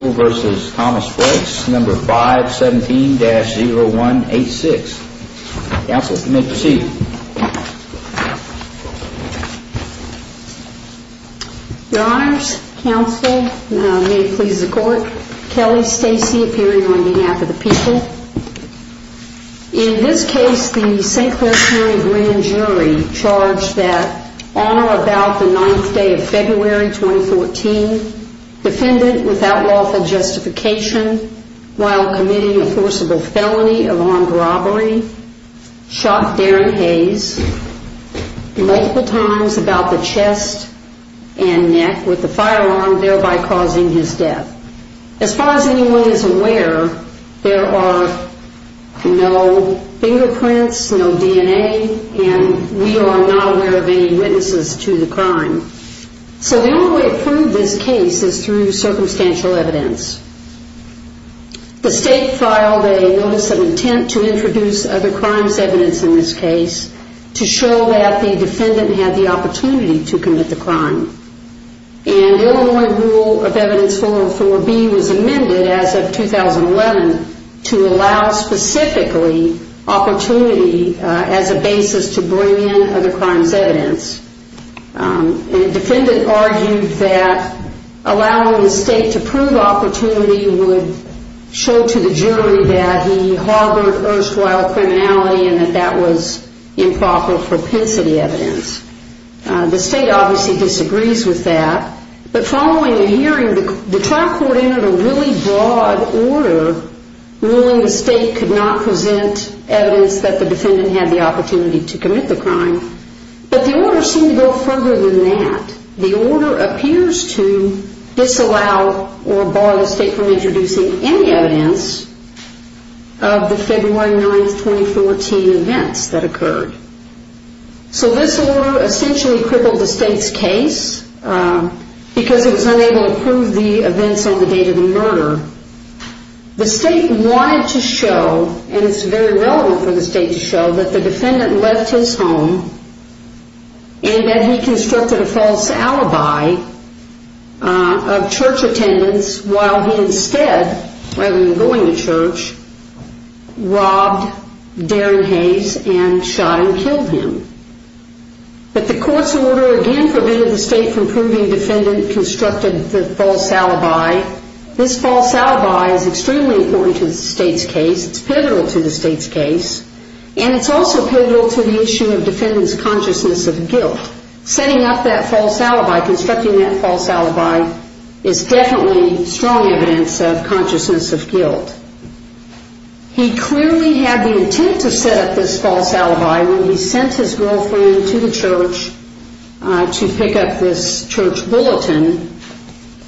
Your Honors, Counsel, Kelly, Stacey, appearing on behalf of the people. In this case, the St. Clair County Grand Jury charged that on or about the 9th day of February 2014, defendant without lawful justification, while committing a forcible felony of armed robbery, shot Darren Hayes multiple times about the chest and neck with a firearm, thereby causing his death. As far as anyone is aware, there are no fingerprints, no DNA, and we are not aware of any witnesses to the crime. So the only way to prove this case is through circumstantial evidence. The State filed a Notice of Intent to Introduce Other Crimes Evidence in this case to show that the defendant had the opportunity to commit the crime. And Illinois Rule of Evidence 404B was amended as of 2011 to allow specifically opportunity as a basis to bring in other crimes evidence. And the defendant argued that allowing the State to prove opportunity would show to the jury that he harbored erstwhile criminality and that that was improper propensity evidence. The State obviously disagrees with that. But following the hearing, the trial court entered a really broad order ruling the State could not present evidence that the defendant had the opportunity to commit the crime. But the order seemed to go further than that. The order appears to disallow or bar the State from introducing any evidence of the February 9, 2014 events that occurred. So this order essentially crippled the State's case because it was unable to prove the events on the date of the murder. The State wanted to show, and it's very relevant for the State to show, that the defendant left his home and that he constructed a false alibi of church attendance while he instead, rather than going to church, robbed Darren Hayes and shot and killed him. But the court's order again forbade the State from proving the defendant constructed the false alibi. This false alibi is extremely important to the State's case. It's pivotal to the State's case. And it's also pivotal to the issue of the defendant's consciousness of guilt. Setting up that false alibi, constructing that false alibi, is definitely strong evidence of consciousness of guilt. He clearly had the intent to set up this false alibi when he sent his girlfriend to the church to pick up this church bulletin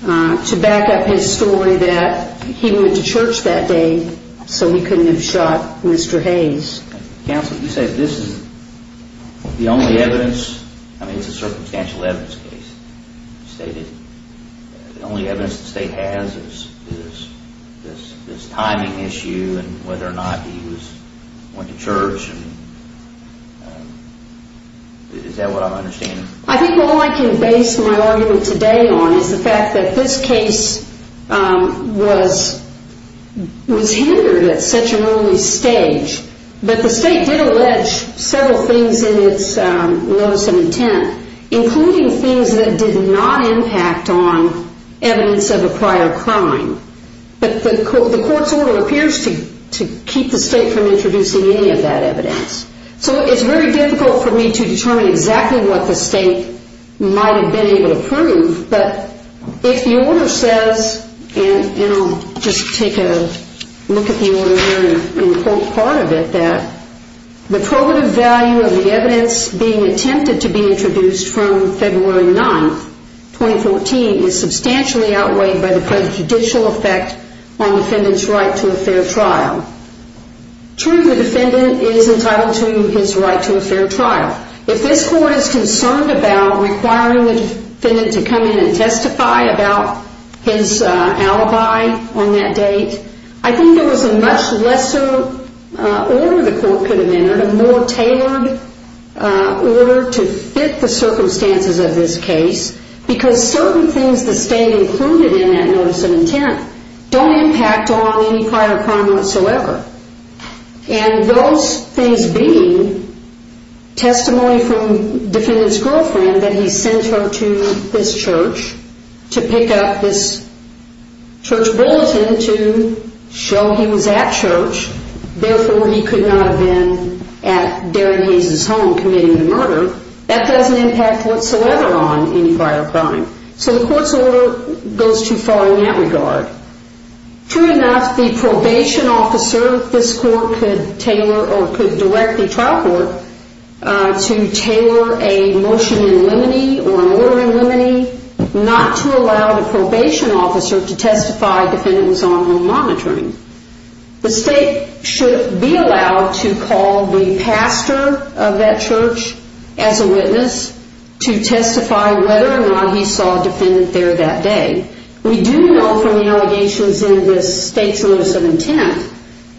to back up his story that he went to church that day so he couldn't have shot Mr. Hayes. Counsel, you say this is the only evidence, I mean it's a circumstantial evidence case, the only evidence the State has is this timing issue and whether or not he went to church. Is that what I'm understanding? I think all I can base my argument today on is the fact that this case was hindered at such an early stage. But the State did allege several things in its notice of intent, including things that did not impact on evidence of a prior crime. But the court's order appears to keep the State from introducing any of that evidence. So it's very difficult for me to determine exactly what the State might have been able to prove. But if the order says, and I'll just take a look at the order here and quote part of it, that the probative value of the evidence being attempted to be introduced from February 9th, 2014, is substantially outweighed by the prejudicial effect on the defendant's right to a fair trial. True, the court is concerned about requiring the defendant to come in and testify about his alibi on that date. I think there was a much lesser order the court could have entered, a more tailored order to fit the circumstances of this case because certain things the State included in that notice of intent don't impact on any prior crime whatsoever. And those things being testimony from the defendant's girlfriend that he sent her to this church to pick up this church bulletin to show he was at church, therefore he could not have been at Darren Hayes' home committing the murder. That doesn't impact whatsoever on any prior crime. So the court's order goes too far in that regard. True enough, the probation officer this court could tailor or could directly trial court to tailor a motion in limine or a murder in limine not to allow the probation officer to testify if the defendant was on home monitoring. The State should be allowed to call the pastor of that church as a witness to testify whether or not he saw a defendant there that day. We do know from the allegations in this State's notice of intent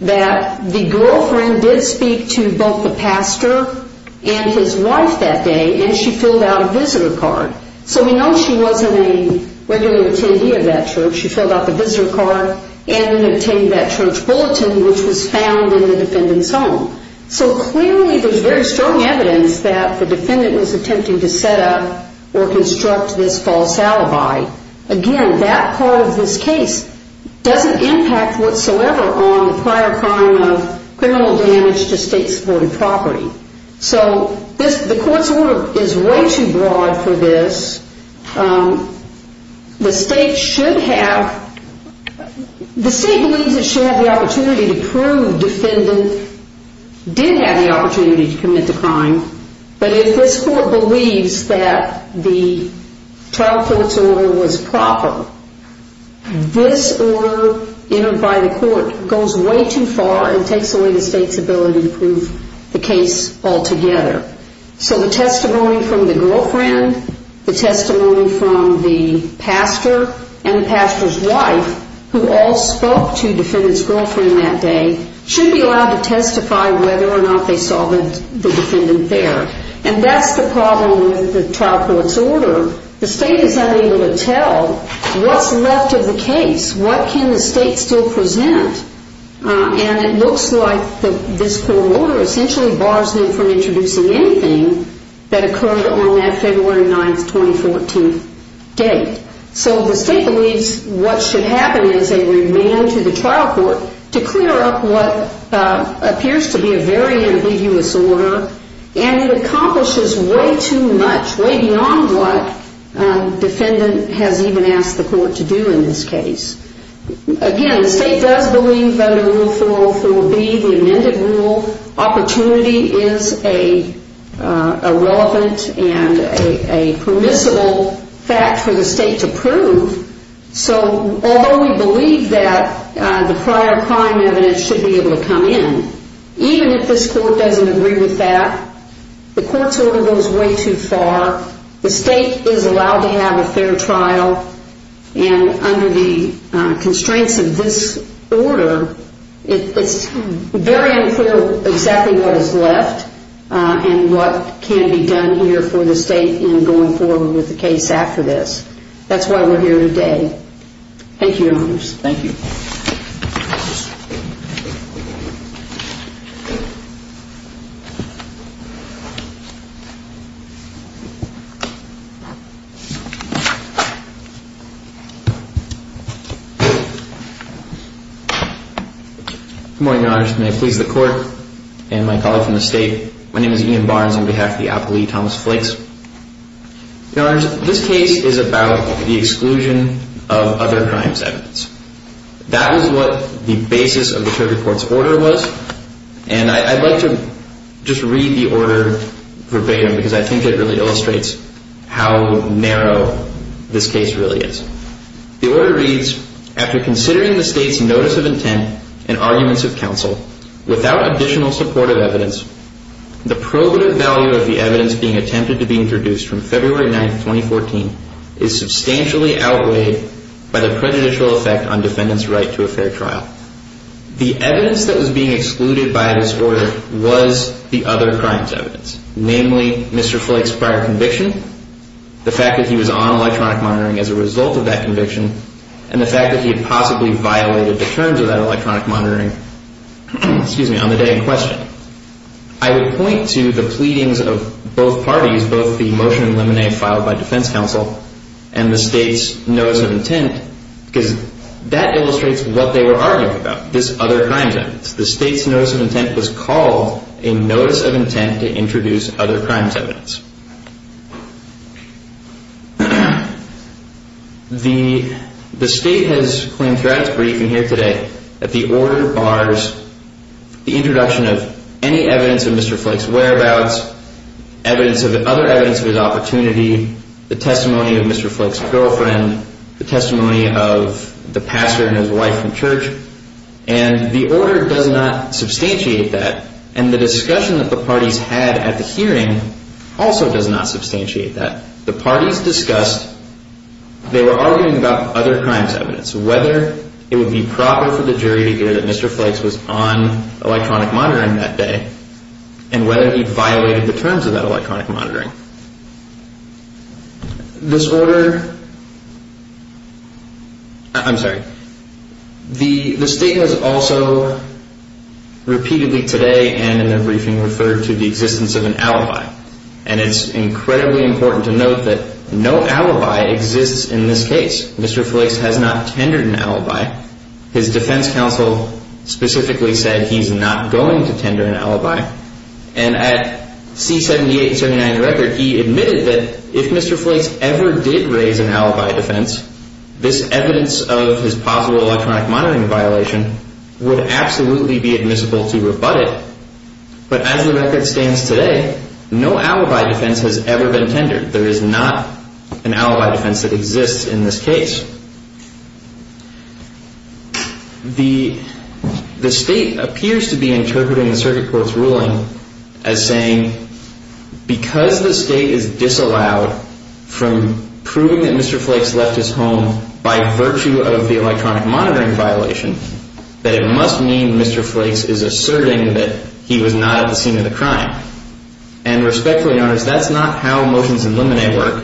that the girlfriend did speak to both the pastor and his wife that day and she filled out a visitor card. So we know she wasn't a regular attendee of that church. She filled out the visitor card and obtained that church bulletin which was found in the defendant's home. So clearly there's very strong evidence that the defendant was attempting to set up or construct this false alibi. Again that part of this case doesn't impact whatsoever on prior crime of criminal damage to State supported property. So the court's order is way too broad for this. The State should have, the State believes it should have the opportunity to prove the defendant did have the opportunity to commit the crime but if this court believes that the trial for this order was proper, this order entered by the court goes way too far and takes away the State's ability to prove the case altogether. So the testimony from the girlfriend, the testimony from the pastor and the pastor's wife who all spoke to defendant's girlfriend that day should be allowed to testify whether or not they saw the defendant there. And that's the problem with the trial court's order. The State is unable to tell what's left of the case. What can the State still present? And it looks like this court order essentially bars them from introducing anything that occurred on that February 9, 2014 date. So the State believes what should happen is they remand to the trial court to clear up what appears to be a very ambiguous order and it accomplishes way too much, way beyond what defendant has even asked the court to do in this case. Again the State does believe under Rule 404B the amended rule opportunity is a relevant and a permissible fact for the State to prove. So although we believe that the prior crime evidence should be able to come in, even if this court doesn't agree with that, the court's order goes way too far, the State is allowed to have a fair trial and under the constraints of this order it's very unclear exactly what is left and what can be done here for the State in going forward with the case after this. That's why we're here today. Thank you, Your Honors. Thank you. Good morning, Your Honors. May it please the Court and my colleague from the State, my name is Ian Barnes on behalf of the applee, Thomas Flakes. Your Honors, this case is about the exclusion of other crimes evidence. That was what the basis of the court's order was and I'd like to just read the order verbatim because I think it really illustrates how important it really is. The order reads, after considering the State's notice of intent and arguments of counsel, without additional supportive evidence, the probative value of the evidence being attempted to be introduced from February 9th, 2014, is substantially outweighed by the prejudicial effect on defendant's right to a fair trial. The evidence that was being excluded by this order was the other crimes evidence, namely Mr. Flakes' prior conviction, the fact that he was on electronic monitoring as a result of that conviction, and the fact that he had possibly violated the terms of that electronic monitoring on the day in question. I would point to the pleadings of both parties, both the motion and lemonade filed by defense counsel and the State's notice of intent because that illustrates what they were arguing about, this other crimes evidence. The State's notice of intent was called a notice of intent to introduce other crimes evidence. The State has claimed throughout its briefing here today that the order bars the introduction of any evidence of Mr. Flakes' whereabouts, other evidence of his opportunity, the testimony of Mr. Flakes' girlfriend, the testimony of the pastor and his wife from church, and the discussion that the parties had at the hearing also does not substantiate that. The parties discussed, they were arguing about other crimes evidence, whether it would be proper for the jury to hear that Mr. Flakes was on electronic monitoring that day and whether he violated the terms of that electronic monitoring. This order, I'm sorry, the State has also repeatedly today and in their briefing referred to the existence of an alibi. And it's incredibly important to note that no alibi exists in this case. Mr. Flakes has not tendered an alibi. His defense counsel specifically said he's not going to tender an alibi. And at C-78 and 79 record, he admitted that if Mr. Flakes ever did raise an alibi defense, this evidence of his possible electronic monitoring violation would absolutely be admissible to abut it. But as the record stands today, no alibi defense has ever been tendered. There is not an alibi defense that exists in this case. The State appears to be interpreting the circuit court's ruling as saying because the State is disallowed from proving that Mr. Flakes left his home by virtue of the electronic monitoring violation, that it must mean Mr. Flakes is asserting that he was not at the scene of the crime. And respectfully in other words, that's not how motions in limine work.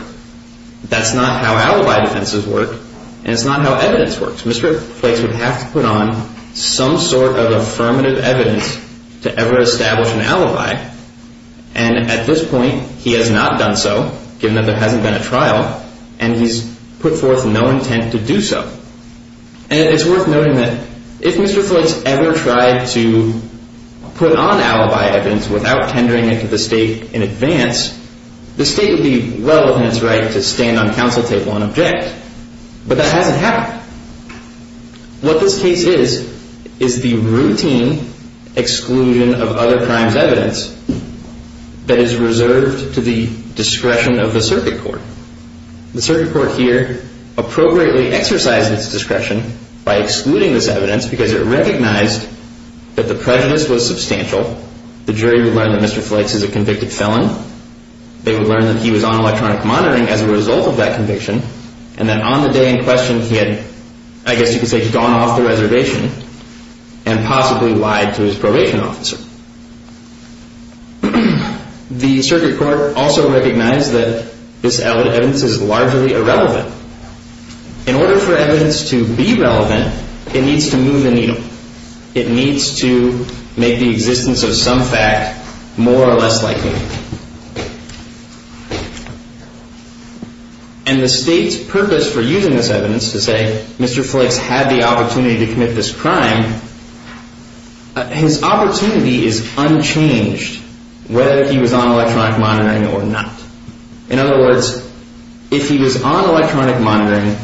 That's not how alibi defenses work. And it's not how evidence works. Mr. Flakes would have to put on some sort of affirmative evidence to ever establish an alibi. And at this point, he has not done so given that there hasn't been a trial and he's put forth no intent to do so. And it's worth noting that if Mr. Flakes ever tried to put on alibi evidence without tendering it to the State in advance, the State would be well within its right to stand on counsel table and object. But that hasn't happened. What this case is, is the routine exclusion of other crimes evidence that is reserved to the discretion of the circuit court. The circuit court here appropriately exercised its discretion by excluding this evidence because it recognized that the prejudice was substantial. The jury would learn that Mr. Flakes is a convicted felon. They would learn that he was on electronic monitoring as a result of that conviction. And that on the day in question, he had, I guess you could say, gone off the reservation and possibly lied to his probation officer. The circuit court also recognized that this evidence, in order for evidence to be relevant, it needs to move the needle. It needs to make the existence of some fact more or less likely. And the State's purpose for using this evidence to say Mr. Flakes had the opportunity to commit this crime, his opportunity is unchanged whether he was on electronic monitoring or not. In other words, if he was on electronic monitoring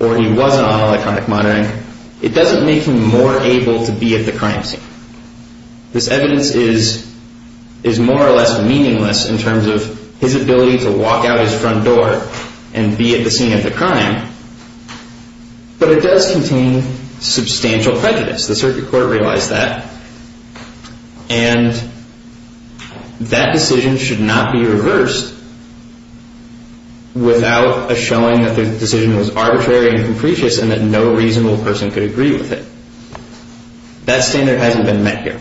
or he wasn't on electronic monitoring, it doesn't make him more able to be at the crime scene. This evidence is more or less meaningless in terms of his ability to walk out his front door and be at the scene of the crime. But it does contain substantial prejudice. The circuit court realized that. And that decision should not be reversed without a showing that the decision was arbitrary and capricious and that no reasonable person could agree with it. That standard hasn't been met here.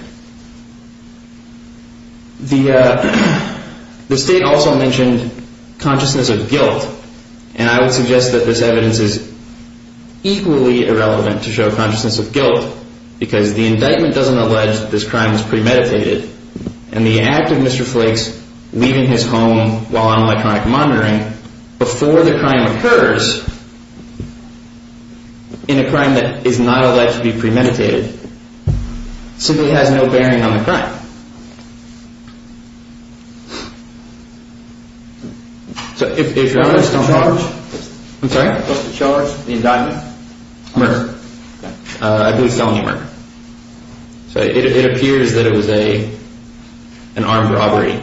The State also mentioned consciousness of guilt. And I would suggest that this evidence is equally irrelevant to show consciousness of guilt because the indictment doesn't allege that this crime was premeditated. And the act of Mr. Flakes leaving his home while on electronic monitoring before the crime occurs in a crime that is not alleged to be premeditated simply has no bearing on the crime. If you're honest, I'm sorry? What's the charge? The indictment? Murder. I believe it's felony murder. It appears that it was an armed robbery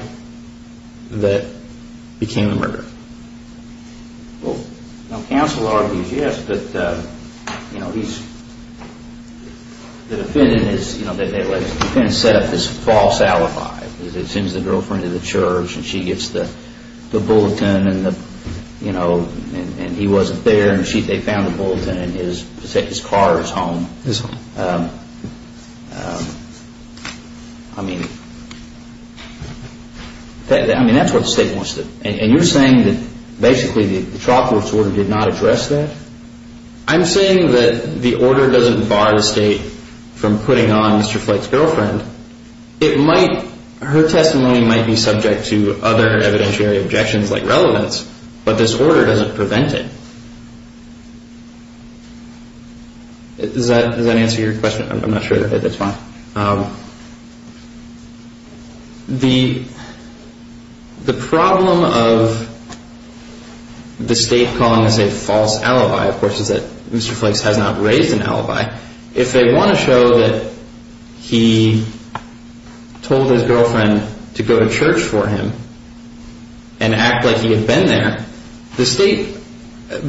that became the murder. Well, counsel argues yes, but the defendant set up this false alibi. He sends the girlfriend to the church and she gets the bulletin and he wasn't there and they found the bulletin in his car or his home. His home. I mean, that's what the State wants to do. And you're saying that basically the Chalkworth's order did not address that? I'm saying that the order doesn't bar the State from putting on Mr. Flake's girlfriend. Her testimony might be subject to other evidentiary objections like relevance, but this order doesn't prevent it. Does that answer your question? I'm not sure if it does. The problem of the State calling this a false alibi, of course, is that Mr. Flakes has not raised an alibi. If they want to show that he told his girlfriend to go to church for him and act like he had been there, the State,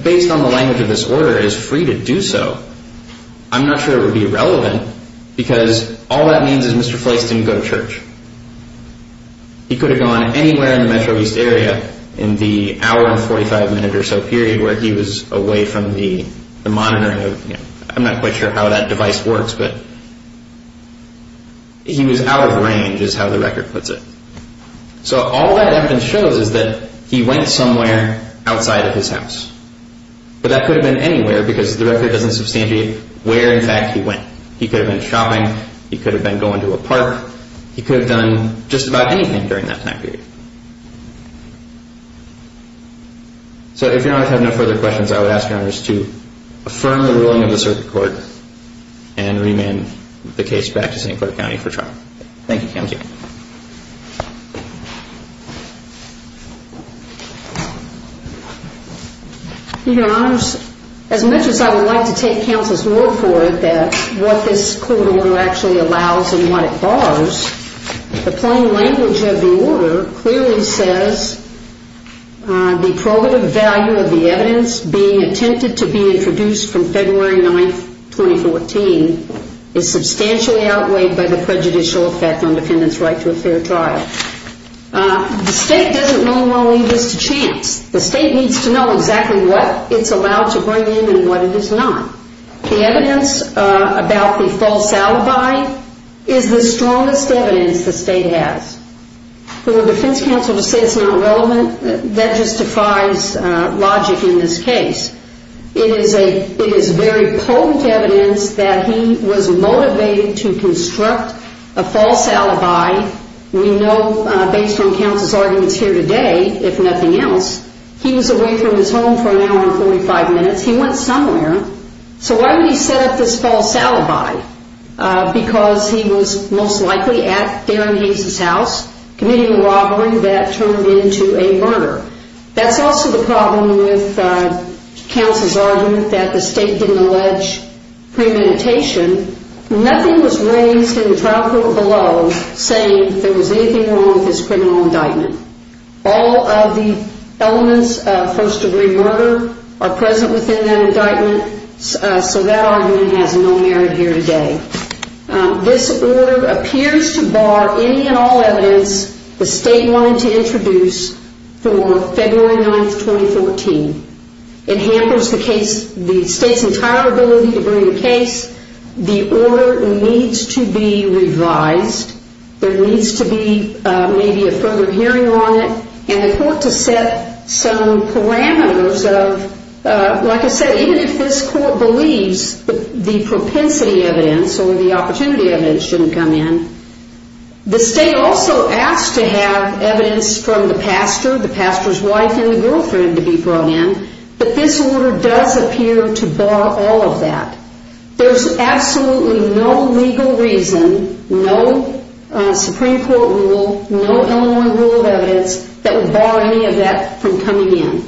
based on the language of this order, is free to do so. I'm not sure it would be relevant because all that means is Mr. Flakes didn't go to church. He could have gone anywhere in the Metro East area in the hour and 45 minute or so period where he was away from the monitoring. I'm not quite sure how that device works, but he was out of range is how the record puts it. So all that evidence shows is that he went somewhere outside of his house. But that could have been anywhere because the record doesn't substantiate where, in fact, he went. He could have been shopping. He could have been going to a park. He could have done just about anything during that time period. So if Your Honor have no further questions, I would ask Your Honors to affirm the ruling of the circuit court and remand the case back to St. Clair County for trial. Thank you. Thank you. Your Honors, as much as I would like to take counsel's word for it that what this court order actually allows and what it bars, the plain language of the order clearly says the probative value of the evidence being attempted to be introduced from February 9, 2014 is substantially outweighed by the prejudicial effect on defendant's right to a fair trial. The state doesn't normally leave this to chance. The state needs to know exactly what it's allowed to bring in and what it is not. The evidence about the false alibi is the strongest evidence the state has. For the defense counsel to say it's not relevant, that just defies logic in this case. It is very potent evidence that he was motivated to construct a false alibi. We know based on counsel's arguments here today, if nothing else, he was away from his home for an hour and 45 minutes. He went somewhere. So why would he set up this false alibi? Because he was most likely at Darren Hayes' house committing a robbery that turned into a murder. That's also the problem with counsel's argument that the state didn't allege premeditation. Nothing was raised in the trial court below saying there was anything wrong with his criminal indictment. All of the elements of first-degree murder are present within that indictment. So that argument has no merit here today. This order appears to bar any and all evidence the state wanted to introduce for February 9, 2014. It hampers the state's entire ability to bring a case. The order needs to be revised. There needs to be maybe a further hearing on it and the court to set some parameters of, like I said, even if this court believes the propensity evidence or the opportunity evidence shouldn't come in, the state also asked to have evidence from the pastor, the pastor's wife, and the girlfriend to be brought in. But this order does appear to bar all of that. There's absolutely no legal reason, no Supreme Court rule, no Illinois rule of evidence that would bar any of that from coming in.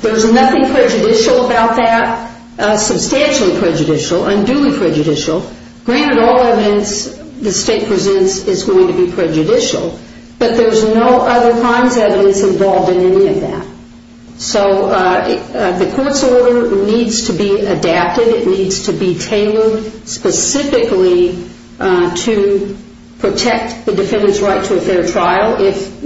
There's nothing prejudicial about that, substantially prejudicial, unduly prejudicial. Granted, all evidence the state presents is going to be prejudicial, but there's no other crimes evidence involved in any of that. So the court's order needs to be adapted. It needs to be tailored specifically to protect the defendant's right to a fair trial if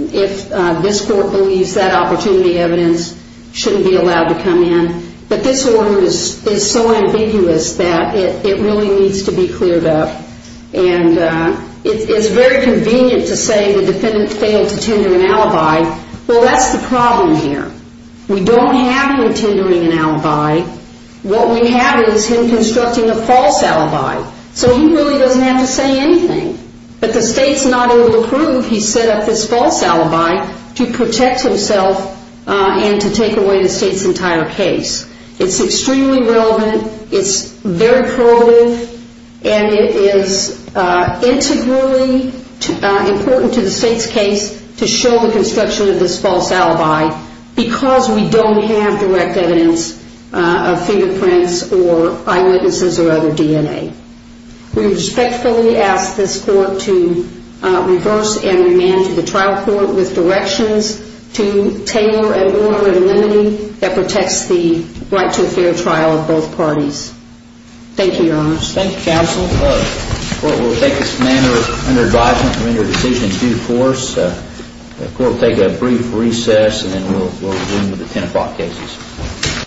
this court believes that opportunity evidence shouldn't be allowed to come in. But this order is so ambiguous that it really needs to be cleared up. And it's very convenient to say the defendant failed to tender an alibi. Well, that's the problem here. We don't have him tendering an alibi. What we have is him constructing a false alibi. So he really doesn't have to say anything. But the state's not able to prove he set up this false alibi to protect himself and to take away the state's entire case. It's extremely relevant. It's very probative. And it is integrally important to the state's case to show the construction of this false alibi because we don't have direct evidence of fingerprints or eyewitnesses or other DNA. We respectfully ask this court to reverse and remand to the trial court with directions to tailor an order of limiting that protects the right to a fair trial of both parties. Thank you, Your Honor. Thank you, Counsel. The court will take this matter under advisement to render a decision in due course. The court will take a brief recess, and then we'll resume with the 10 o'clock cases.